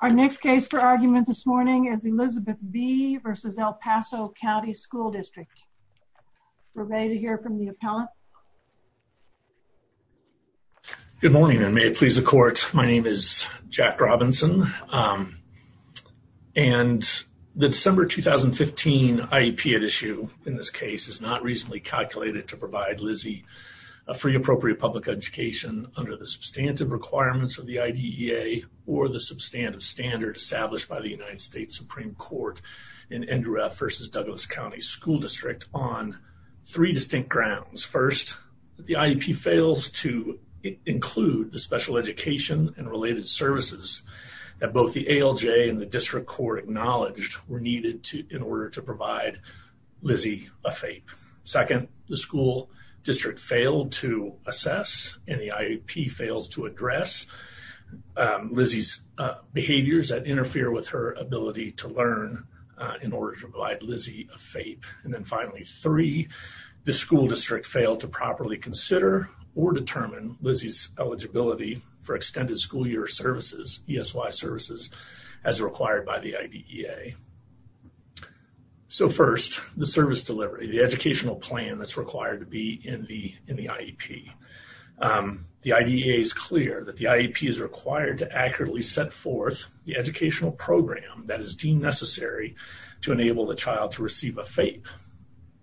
Our next case for argument this morning is Elizabeth B. v. El Paso County School District. We're ready to hear from the appellant. Good morning and may it please the court. My name is Jack Robinson. And the December 2015 IEP at issue in this case is not reasonably calculated to provide Lizzie a free appropriate public education under the substantive requirements of the IDEA or the substantive standard established by the United States Supreme Court in Indoorah v. Douglas County School District on three distinct grounds. First, the IEP fails to include the special education and related services that both the ALJ and the District Court acknowledged were needed in order to provide Lizzie a FAPE. Second, the school District failed to assess and the IEP fails to address Lizzie's behaviors that interfere with her ability to learn in order to provide Lizzie a FAPE. And then finally, three, the school district failed to properly consider or determine Lizzie's eligibility for extended school year services, ESY services, as required by the IDEA. So first, the service delivery, the educational plan that's in the IEP. The IDEA is clear that the IEP is required to accurately set forth the educational program that is deemed necessary to enable the child to receive a FAPE.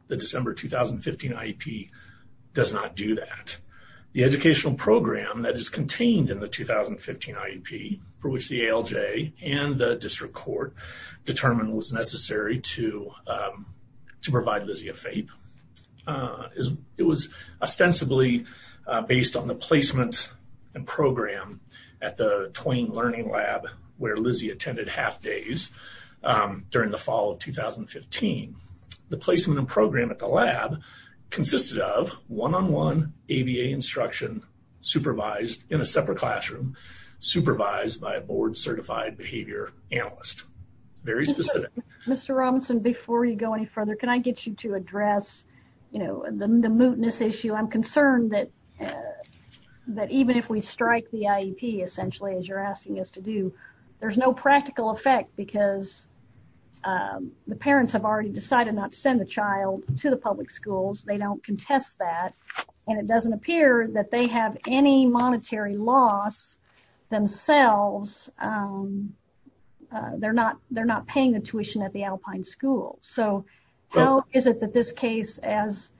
The December 2015 IEP does not do that. The educational program that is contained in the 2015 IEP for which the ALJ and the District Court determined was necessary to provide Lizzie a FAPE, it was ostensibly based on the placement and program at the Twain Learning Lab where Lizzie attended half days during the fall of 2015. The placement and program at the lab consisted of one-on-one ABA instruction supervised in a separate classroom, supervised by a board certified behavior analyst. Very specific. Mr. Robinson, before you go any further, can I get you to address, you know, the mootness issue? I'm concerned that even if we strike the IEP, essentially, as you're asking us to do, there's no practical effect because the parents have already decided not to send the child to the public schools. They don't contest that and it doesn't appear that they have any monetary loss themselves. They're not paying the tuition at the Alpine school. So how is it that this case, as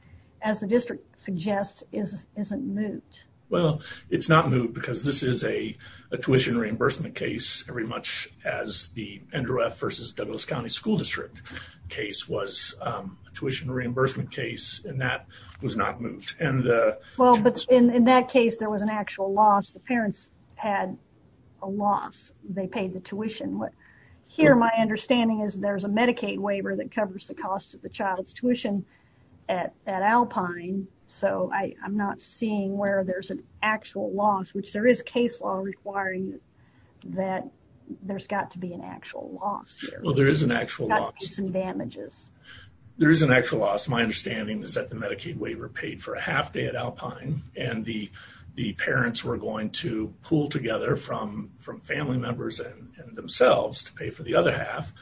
the district suggests, isn't moot? Well, it's not moot because this is a tuition reimbursement case very much as the Andrew F. versus Douglas County School District case was a tuition reimbursement case and that was not moot. Well, but in that case, there was an actual loss. The parents had a loss. They paid the tuition. Here, my understanding is there's a Medicaid waiver that covers the cost of the child's tuition at Alpine, so I'm not seeing where there's an actual loss, which there is case law requiring that there's got to be an actual loss. Well, there is an actual loss. There is an actual loss. My understanding is that the Medicaid waiver paid for a half day at Alpine and the parents were going to pool together from family members and themselves to pay for the other half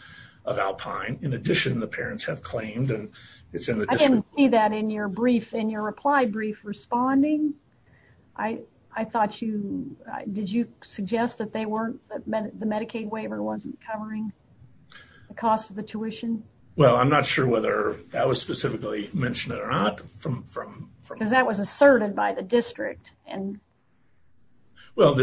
of Alpine. In addition, the parents have claimed and it's in the district. I didn't see that in your brief, in your reply brief responding. I thought you, did you suggest that they weren't, that the Medicaid waiver wasn't covering the cost of the tuition? Well, I'm not sure whether that was specifically mentioned or not. Because that was asserted by the district. Well,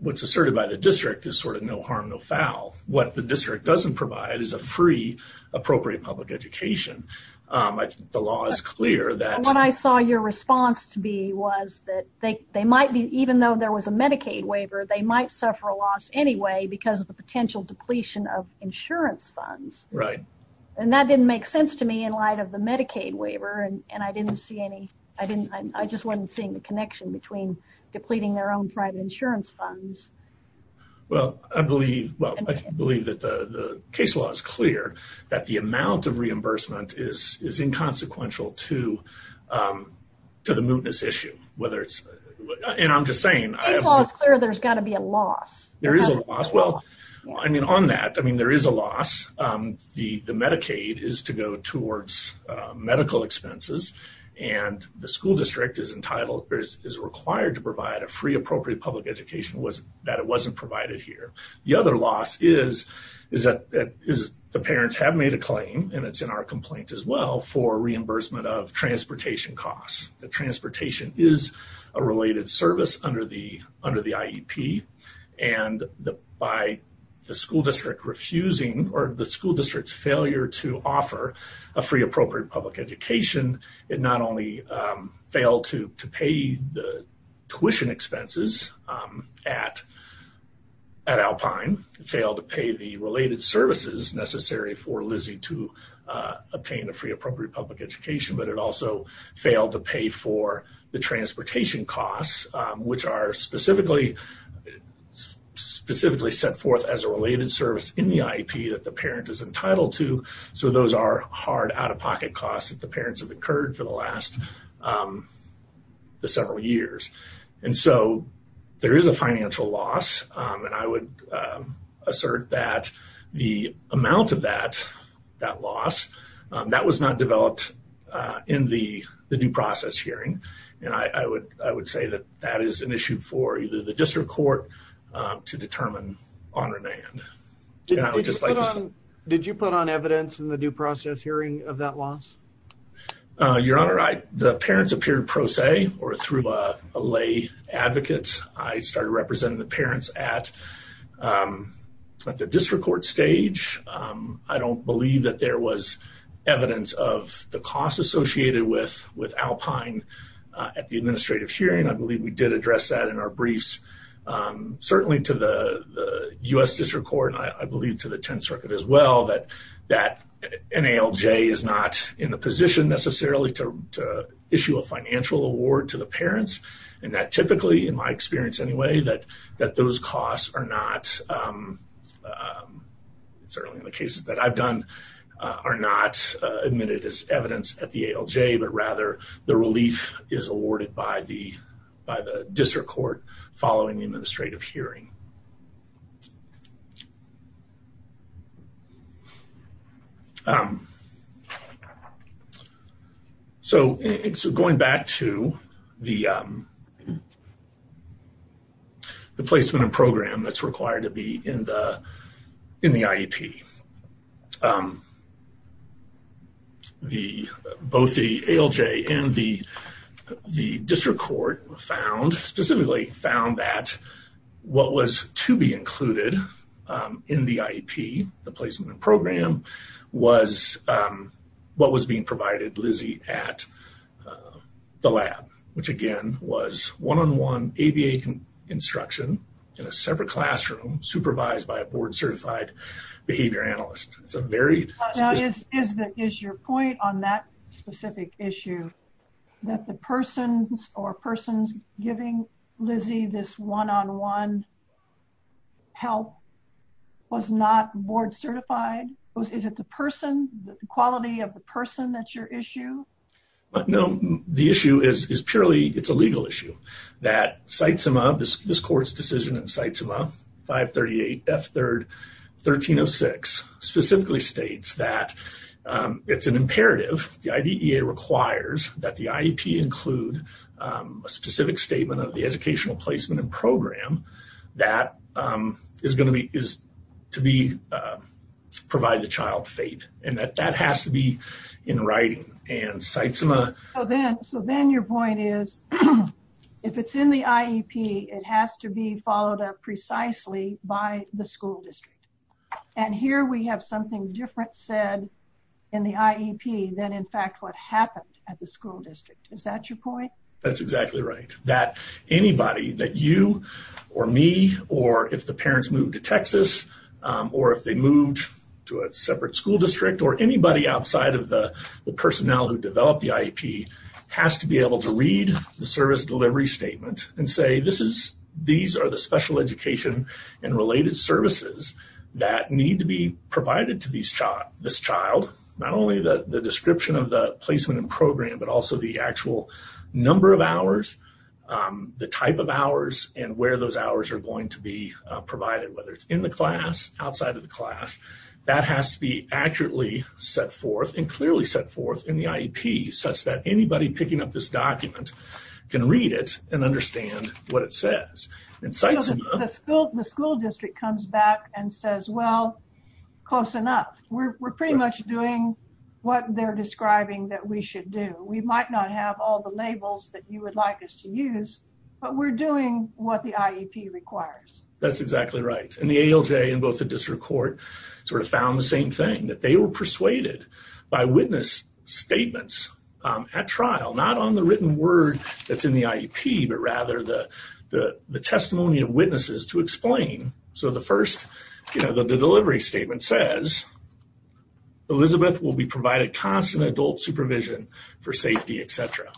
what's asserted by the district is sort of no harm, no foul. What the district doesn't provide is a free appropriate public education. I think the law is clear. What I saw your response to be was that they might be, even though there was a Medicaid waiver, they might suffer a loss anyway because of the potential depletion of insurance funds. Right. And that didn't make sense to me in light of the Medicaid waiver. And I didn't see any, I didn't, I just wasn't seeing the connection between depleting their own private insurance funds. Well, I believe, well, I believe that the case law is clear that the amount of reimbursement is inconsequential to the mootness issue. Whether it's, and I'm just saying. Case law is clear there's got to be a loss. Well, I mean, on that, I mean, there is a loss. The Medicaid is to go towards medical expenses and the school district is entitled, is required to provide a free appropriate public education that it wasn't provided here. The other loss is that the parents have made a claim, and it's in our complaint as well, for reimbursement of transportation costs. The transportation is a related service under the IEP. And by the school district refusing, or the school district's failure to offer a free appropriate public education, it not only failed to pay the tuition expenses at Alpine, it failed to pay the related services necessary for the transportation costs, which are specifically set forth as a related service in the IEP that the parent is entitled to. So those are hard out-of-pocket costs that the parents have incurred for the last several years. And so there is a financial loss. And I would assert that the I would say that that is an issue for either the district court to determine on remand. Did you put on evidence in the due process hearing of that loss? Your Honor, the parents appeared pro se or through a lay advocate. I started representing the parents at the district court stage. I don't believe that there was evidence of the costs associated with Alpine at the administrative hearing. I believe we did address that in our briefs. Certainly to the U.S. district court, and I believe to the 10th Circuit as well, that NALJ is not in the position necessarily to issue a financial award to the parents. And that typically, in my experience anyway, that those costs are not, certainly in the cases that I've done, are not admitted as evidence at the ALJ, but rather the relief is awarded by the district court following the administrative hearing. So going back to the placement and program that's required to be in the IEP, both the ALJ and the district court found, specifically found that what was to be included in the IEP, the placement and program, was what was being provided Lizzie at the lab, which again was one-on-one ABA instruction in a separate classroom supervised by a board certified behavior analyst. It's a very... Now is your point on that specific issue that the persons or persons giving Lizzie this one-on-one help was not board certified? Is it the person, the quality of the person that's your issue? No, the issue is purely, it's a legal issue, that CITESIMA, this court's decision in CITESIMA 538 F3rd 1306, specifically states that it's an imperative, the IDEA requires that the IEP include a specific statement of the educational placement and program that is going to be, is to be, provide the child fate. And that that has to be in writing. And CITESIMA... So then your point is, if it's in the IEP, it has to be followed up precisely by the school district. And here we have something different said in the IEP than in fact what happened at the school district. Is that your point? That's exactly right. That anybody, that you or me, or if the parents moved to Texas, or if they moved to a separate school district, or anybody outside of the personnel who developed the IEP, has to be able to read the service delivery statement and say, these are the special education and related services that need to be provided to this child. Not only the description of the placement and program, but also the actual number of hours, the type of hours, and where those hours are going to be provided. Whether it's in the class, outside of the class, that has to be accurately set forth and clearly set forth in the IEP such that anybody picking up this document can read it and understand what it says. And CITESIMA... The school district comes back and says, well, close enough. We're pretty much doing what they're describing that we should do. We might not have all the labels that you would like us to use, but we're doing what the IEP requires. That's exactly right. And the ALJ and both the district court sort of found the same thing, that they were persuaded by witness statements at trial, not on the written word that's in the IEP, but rather the testimony of witnesses to explain. So the first, you know, the delivery statement says, Elizabeth will be provided constant adult supervision for safety, et cetera.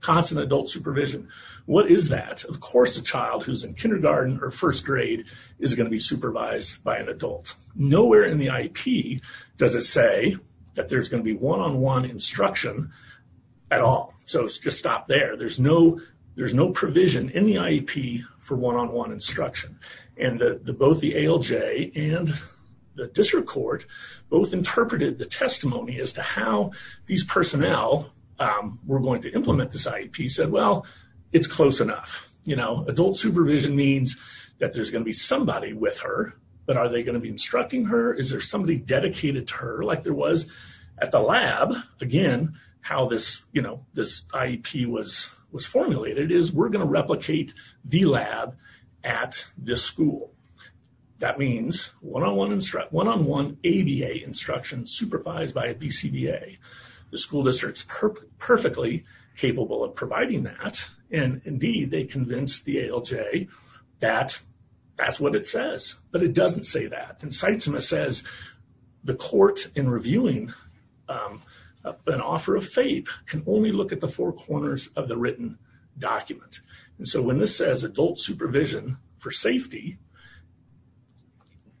Constant adult supervision. What is that? Of course, a child who's in kindergarten or first grade is going to be supervised by an adult. Nowhere in the IEP does it say that there's going to be one-on-one instruction at all. So just stop there. There's no provision in the IEP for one-on-one instruction. And both the ALJ and the district court both interpreted the testimony as to how these personnel were going to implement this IEP, said, well, it's close enough. You know, adult supervision means that there's going to be somebody with her, but are they going to be instructing her? Is there somebody dedicated to her like there was at the lab? Again, how this, you know, this IEP was formulated is we're going to replicate the lab at the school. That means one-on-one instruction, one-on-one ABA instruction supervised by a BCBA. The school district's perfectly capable of providing that. And indeed, they convinced the ALJ that that's what it says, but it doesn't say that. And Sytsima says the court in reviewing an offer of FAPE can only look at the four corners of the written document. And so when this says adult supervision for safety,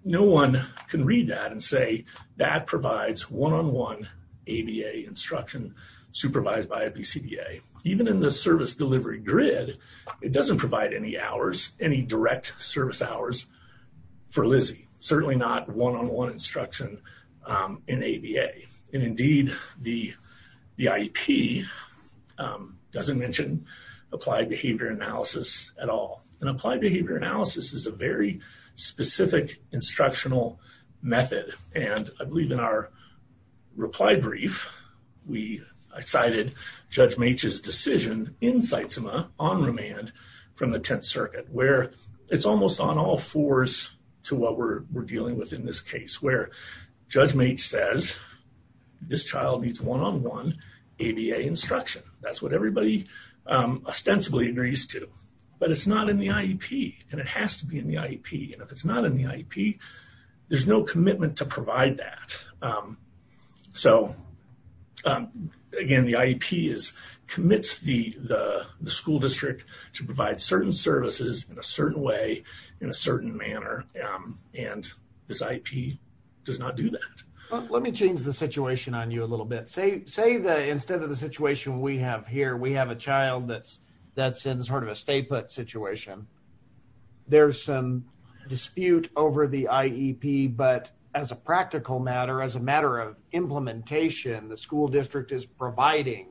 no one can read that and say that provides one-on-one ABA instruction supervised by a BCBA. Even in the service delivery grid, it doesn't provide any hours, any direct service hours for Lizzie. Certainly not one-on-one instruction in ABA. And indeed, the IEP doesn't mention applied behavior analysis at all. And applied behavior analysis is a very specific instructional method. And I believe in our reply brief, we cited Judge Meech's decision in Sytsima on remand from the Tenth Circuit where it's almost on all fours to what we're dealing with in this case where Judge Meech says this child needs one-on-one ABA instruction. That's what everybody ostensibly agrees to. But it's not in the IEP and it has to be in the IEP. And if it's not in the IEP, there's no commitment to provide that. So again, the IEP commits the school district to provide certain services in a certain way, in a certain manner. And this IEP does not do that. Let me change the situation on you a little bit. Say instead of the situation we have here, we have a child that's in sort of a stay-put situation. There's some dispute over the IEP, but as a practical matter, as a matter of implementation, the school district is providing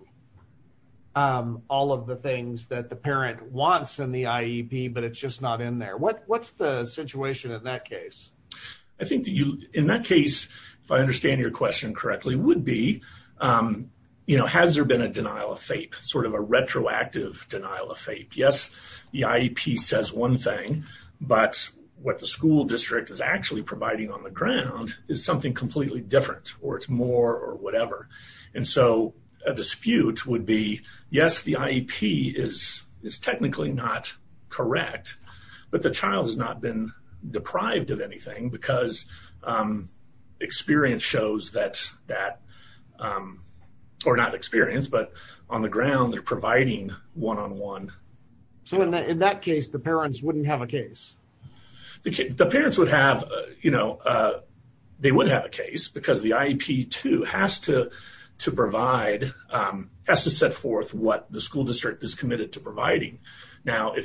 all of the things that the parent wants in the IEP, but it's just not in there. What's the situation in that case? I think that in that case, if I understand your question correctly, would be, has there been a denial of FAPE, sort of a retroactive denial of FAPE? Yes, the IEP says one thing, but what the school district is actually providing on the ground is something completely different or it's more or whatever. And so a dispute would be, yes, the IEP is technically not correct, but the child has not been deprived of anything because experience shows that, or not experience, but on the ground they're providing one-on-one. So in that case, the parents wouldn't have a case? The parents would have, you know, they would have a case because the IEP too has to provide, has to set forth what the school district is committed to providing. Now,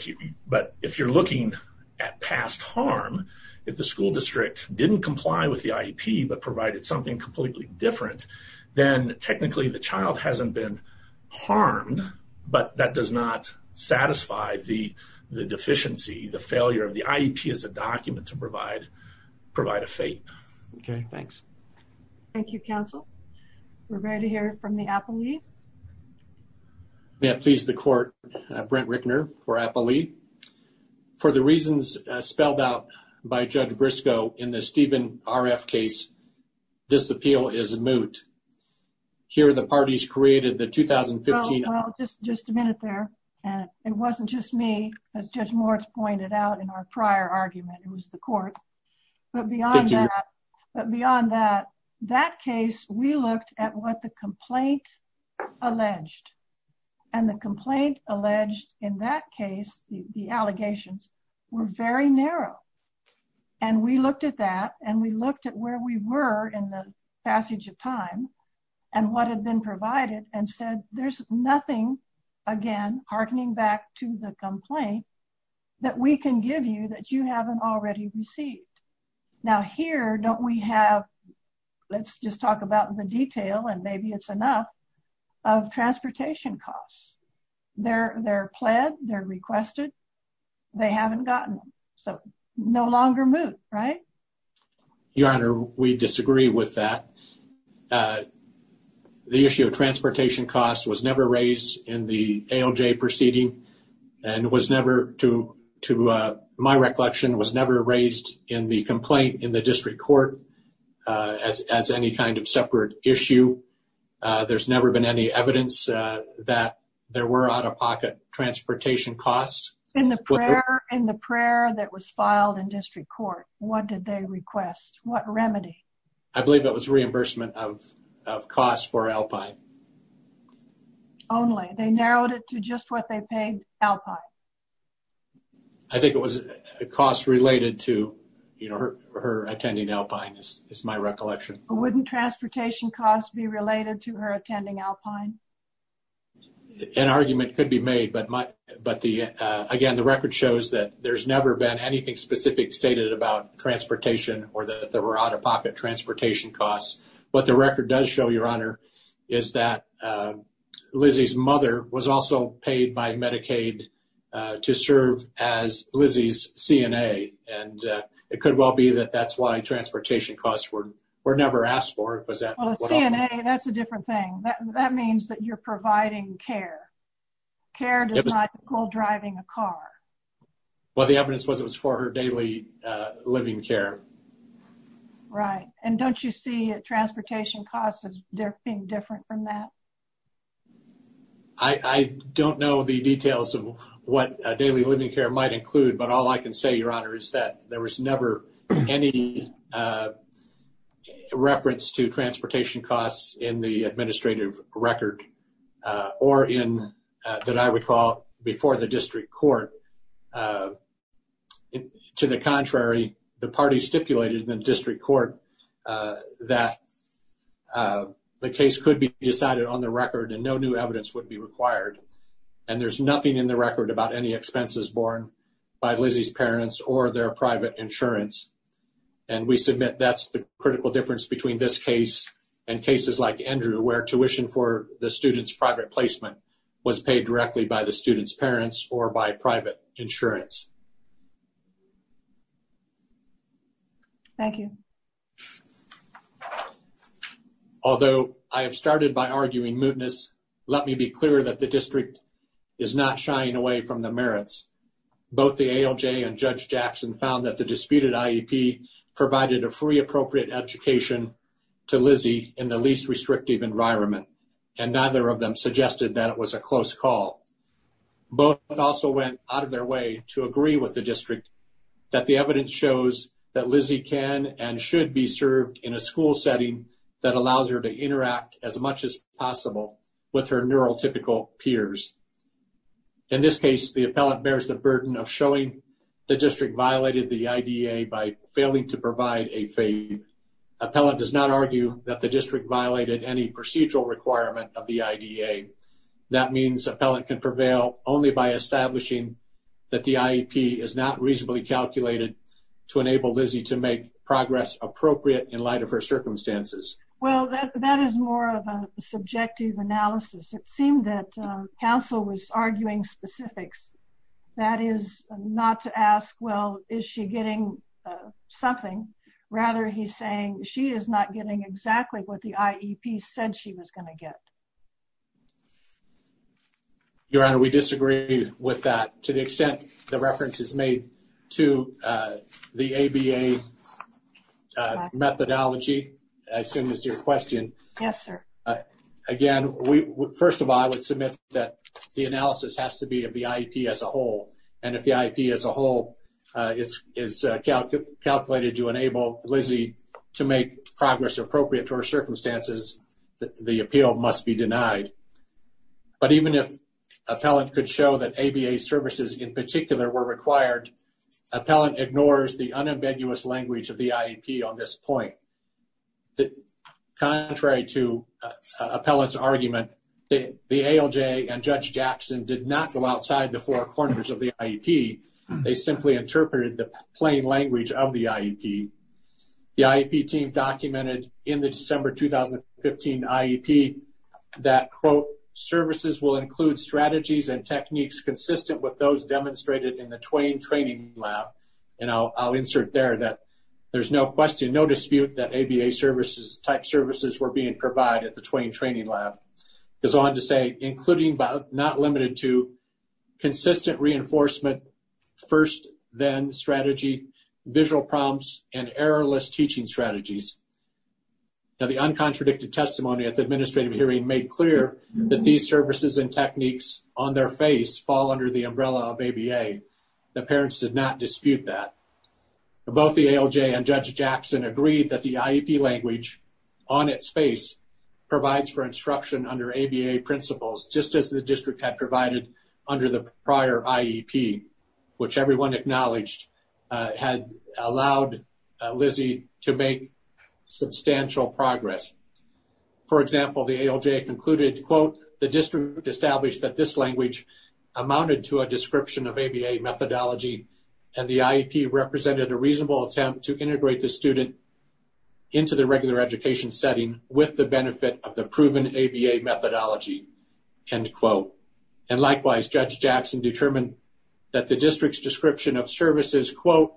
but if you're looking at past harm, if the school district didn't comply with the IEP but provided something completely different, then technically the child hasn't been harmed, but that does not the failure of the IEP as a document to provide a FAPE. Okay, thanks. Thank you, counsel. We're ready to hear from the appellee. May it please the court, Brent Rickner for appellee. For the reasons spelled out by Judge Briscoe in the Steven RF case, this appeal is just a minute there, and it wasn't just me, as Judge Moritz pointed out in our prior argument, it was the court, but beyond that, but beyond that, that case, we looked at what the complaint alleged, and the complaint alleged in that case, the allegations were very narrow, and we looked at that, and we looked at where we were in the passage of time, and what had been provided, and said, there's nothing, again, hearkening back to the complaint, that we can give you that you haven't already received. Now, here, don't we have, let's just talk about the detail, and maybe it's enough, of transportation costs. They're pled, they're requested, they haven't gotten them, so no longer moot, right? Your honor, we disagree with that. The issue of transportation costs was never raised in the ALJ proceeding, and was never, to my recollection, was never raised in the complaint in the district court as any kind of separate issue. There's never been any evidence that there were out-of-pocket transportation costs. In the prayer that was filed in district court, what did they request? What remedy? I believe it was reimbursement of costs for Alpine. Only? They narrowed it to just what they paid Alpine? I think it was a cost related to her attending Alpine, is my recollection. Wouldn't transportation costs be related to her attending Alpine? An argument could be made, but again, the record shows that there's never been anything specific stated about transportation or that there were out-of-pocket transportation costs. What the record does show, your honor, is that Lizzie's mother was also paid by Medicaid to serve as Lizzie's CNA, and it could well be that that's why transportation costs were never asked for. CNA, that's a different thing. That means that you're providing care. Care does not equal driving a car. Well, the evidence was it Right, and don't you see transportation costs as being different from that? I don't know the details of what daily living care might include, but all I can say, your honor, is that there was never any reference to transportation costs in the administrative court that the case could be decided on the record and no new evidence would be required, and there's nothing in the record about any expenses borne by Lizzie's parents or their private insurance, and we submit that's the critical difference between this case and cases like Andrew where tuition for the student's private placement was paid directly by the student's parents or by private insurance. Thank you. Although I have started by arguing mootness, let me be clear that the district is not shying away from the merits. Both the ALJ and Judge Jackson found that the disputed IEP provided a free appropriate education to Lizzie in the least restrictive environment, and neither of them suggested that it was a close call. Both also went out of their way to agree with the district that the evidence shows that Lizzie can and should be served in a school setting that allows her to interact as much as possible with her neurotypical peers. In this case, the appellant bears the burden of showing the district violated the IDEA by failing to provide a fee. Appellant does not argue that the district violated any procedural requirement of the IDEA. That means appellant can prevail only by establishing that the IEP is not reasonably calculated to enable Lizzie to make progress appropriate in light of her circumstances. Well, that is more of a subjective analysis. It seemed that counsel was arguing specifics. That is not to ask, well, is she getting something? Rather, he's saying she is not getting exactly what the IEP said she was going to get. Your Honor, we disagree with that to the extent the reference is made to the ABA methodology. I assume it's your question. Yes, sir. Again, first of all, I would submit that the analysis has to be of the IEP as a whole, and if the IEP as a whole is calculated to enable Lizzie to make progress appropriate to her circumstances, the appeal must be denied. But even if appellant could show that ABA services in particular were required, appellant ignores the unambiguous language of the IEP on this point. Contrary to appellant's argument, the ALJ and Judge Jackson did not go outside the four corners of the IEP. They simply interpreted the plain language of the IEP. The IEP team documented in the December 2015 IEP that, quote, services will include strategies and techniques consistent with those demonstrated in the Twain training lab. And I'll insert there that there's no question, no dispute, that ABA-type services were being provided at the Twain training lab. Because I wanted to say, including but not limited to, consistent reinforcement, first-then strategy, visual prompts, and errorless teaching strategies. Now, the uncontradicted testimony at the administrative hearing made clear that these services and techniques on their face fall under the umbrella of ABA. The parents did not dispute that. Both the ALJ and Judge Jackson agreed that the IEP language on its face provides for instruction under ABA principles, just as the district had provided under the prior IEP, which everyone acknowledged had allowed Lizzie to make substantial progress. For example, the ALJ concluded, quote, the district established that this language amounted to a description of ABA methodology, and the IEP represented a reasonable attempt to integrate the student into the regular education setting with the benefit of the proven ABA methodology, end quote. And likewise, Judge Jackson determined that the district's description of services, quote,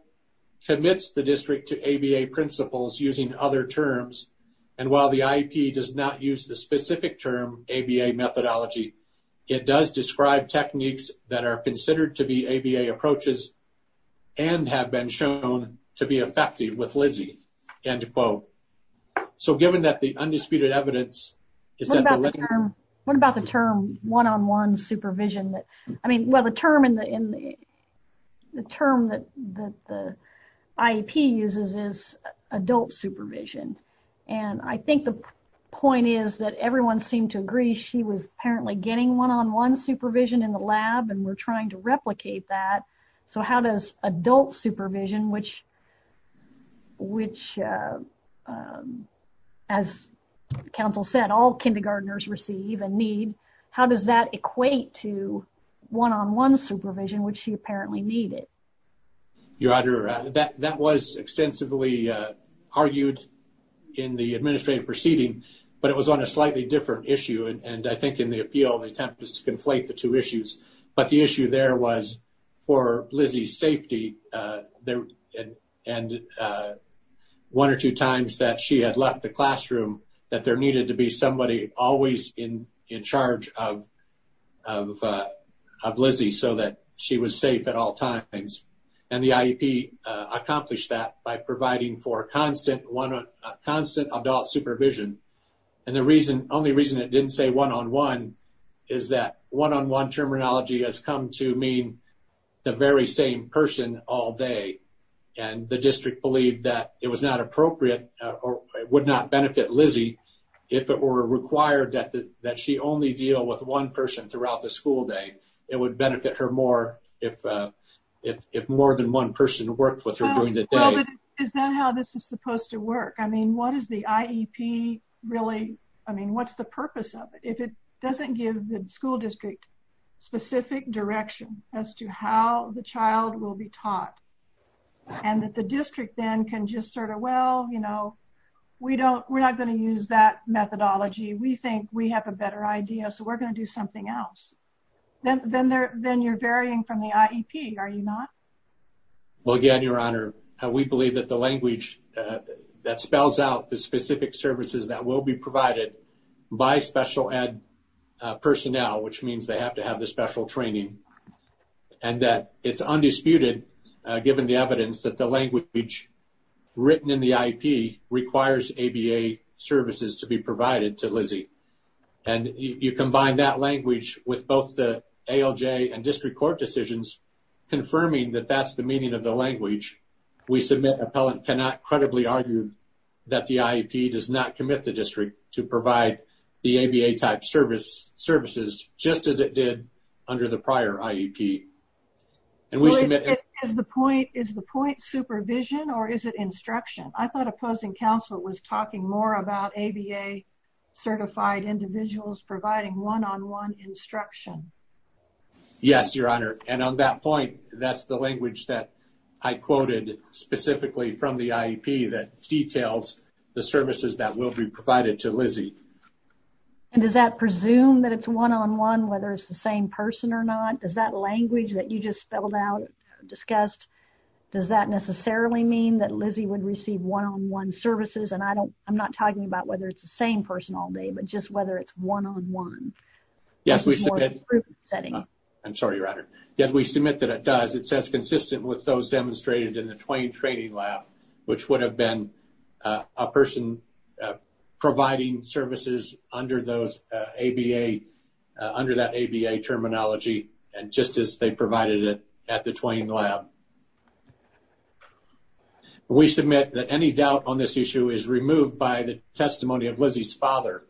commits the district to ABA principles using other terms. And while the IEP does not use the specific term ABA methodology, it does describe techniques that are considered to be ABA approaches and have been shown to be effective with Lizzie, end quote. So, given that the undisputed evidence is that the- What about the term one-on-one supervision? I mean, well, the term that the IEP uses is adult supervision. And I think the point is that everyone seemed to agree she was apparently getting one-on-one supervision in the lab, and we're trying to replicate that. So, how does adult supervision, which, as counsel said, all kindergartners receive and need, how does that equate to one-on-one supervision, which she apparently needed? Your Honor, that was extensively argued in the administrative proceeding, but it was on a tempest to conflate the two issues. But the issue there was for Lizzie's safety, and one or two times that she had left the classroom, that there needed to be somebody always in charge of Lizzie so that she was safe at all times. And the IEP accomplished that by providing for constant adult supervision. And the only reason it didn't say one-on-one is that one-on-one terminology has come to mean the very same person all day. And the district believed that it was not appropriate or it would not benefit Lizzie if it were required that she only deal with one person throughout the school day. It would benefit her more if more than one person worked with her during the day. Is that how this is supposed to work? I mean, what is the IEP really, I mean, what's the purpose of it? If it doesn't give the school district specific direction as to how the child will be taught, and that the district then can just sort of, well, you know, we're not going to use that methodology. We think we have a better idea, so we're going to do something else. Then you're varying from the IEP, are you not? Well, again, Your Honor, we believe that the language that spells out the specific services that will be provided by special ed personnel, which means they have to have the special training, and that it's undisputed, given the evidence, that the language written in the IEP requires ABA services to be provided to Lizzie. And you combine that language with both the ALJ and district court decisions, confirming that that's the meaning of the language. We submit appellant cannot credibly argue that the IEP does not commit the district to provide the ABA type services, just as it did under the prior IEP. And we submit... Is the point supervision or is it instruction? I thought opposing counsel was talking more about ABA certified individuals providing one-on-one instruction. Yes, Your Honor. And on that point, that's the language that I quoted specifically from the IEP that details the services that will be provided to Lizzie. And does that presume that it's one-on-one, whether it's the same person or not? Does that language that you just spelled out, discussed, does that necessarily mean that Lizzie would receive one-on-one services? And I'm not talking about whether it's the same person all day, just whether it's one-on-one. Yes, we submit... I'm sorry, Your Honor. Yes, we submit that it does. It says consistent with those demonstrated in the Twain Training Lab, which would have been a person providing services under that ABA terminology and just as they provided it at the Twain Lab. We submit that any doubt on this issue is removed by the testimony of Lizzie's father.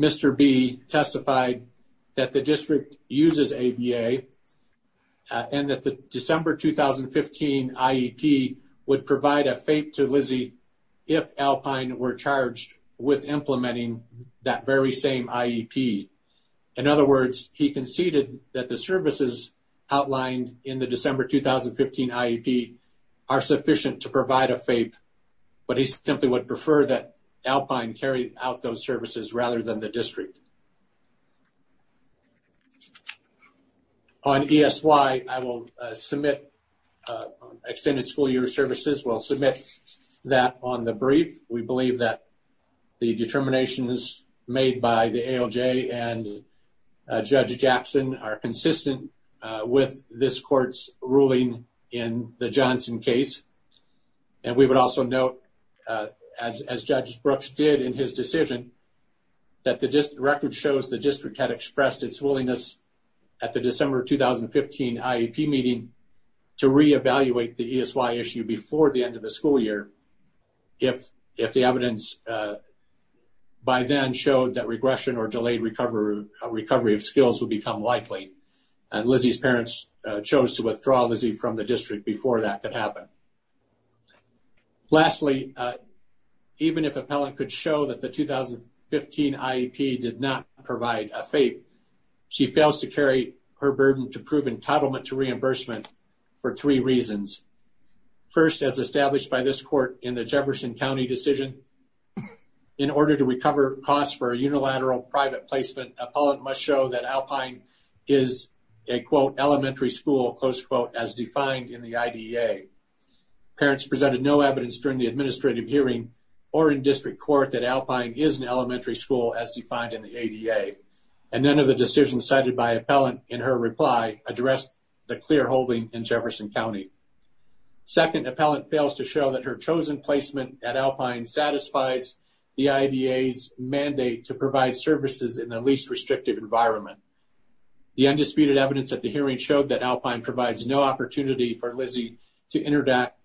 Mr. B testified that the district uses ABA and that the December 2015 IEP would provide a FAPE to Lizzie if Alpine were charged with implementing that very same IEP. In other words, he conceded that the services outlined in the would prefer that Alpine carry out those services rather than the district. On ESY, I will submit extended school year services. We'll submit that on the brief. We believe that the determinations made by the ALJ and Judge Jackson are consistent with this court's ruling in the Johnson case. We would also note, as Judge Brooks did in his decision, that the record shows the district had expressed its willingness at the December 2015 IEP meeting to re-evaluate the ESY issue before the end of the school year if the evidence by then showed that regression or delayed recovery of skills would become likely. Lizzie's parents chose to withdraw Lizzie from the district before that could happen. Lastly, even if an appellant could show that the 2015 IEP did not provide a FAPE, she fails to carry her burden to prove entitlement to reimbursement for three reasons. First, as established by this court in the Jefferson County decision, in order to recover costs for a unilateral private placement, an appellant must show that Alpine is a, quote, elementary school, close quote, as defined in the IDEA. Parents presented no evidence during the administrative hearing or in district court that Alpine is an elementary school as defined in the IDEA, and none of the decisions cited by an appellant in her reply addressed the clear holding in that her chosen placement at Alpine satisfies the IDEA's mandate to provide services in the least restrictive environment. The undisputed evidence at the hearing showed that Alpine provides no opportunity for Lizzie to interact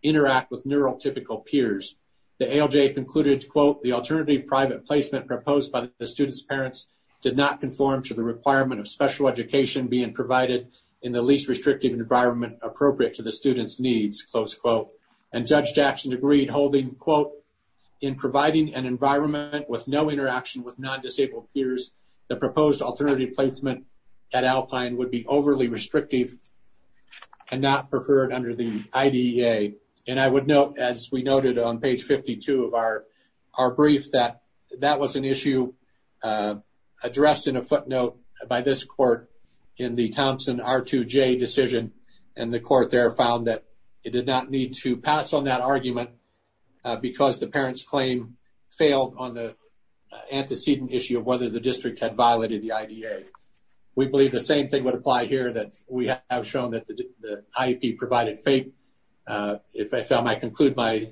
with neurotypical peers. The ALJ concluded, quote, the alternative private placement proposed by the student's parents did not conform to the requirement of special education being provided in the least restrictive environment appropriate to the student's needs, close quote. And Judge Jackson agreed, holding, quote, in providing an environment with no interaction with non-disabled peers, the proposed alternative placement at Alpine would be overly restrictive and not preferred under the IDEA. And I would note, as we noted on page 52 of our brief, that that was an issue addressed in a footnote by this court in the Thompson R2J decision, and the court there found that it did not need to pass on that argument because the parent's claim failed on the antecedent issue of whether the district had violated the IDEA. We believe the same thing would apply here that we have shown that the IEP provided FAPE. If I may conclude my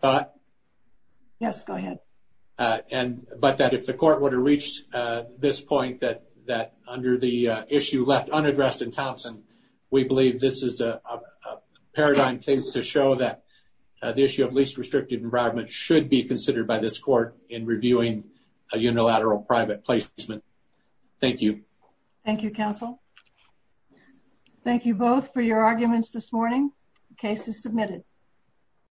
thought. Yes, go ahead. And but that if the court would reach this point that under the issue left unaddressed in Thompson, we believe this is a paradigm case to show that the issue of least restrictive environment should be considered by this court in reviewing a unilateral private placement. Thank you. Thank you, counsel. Thank you both for your arguments this morning. The case is submitted.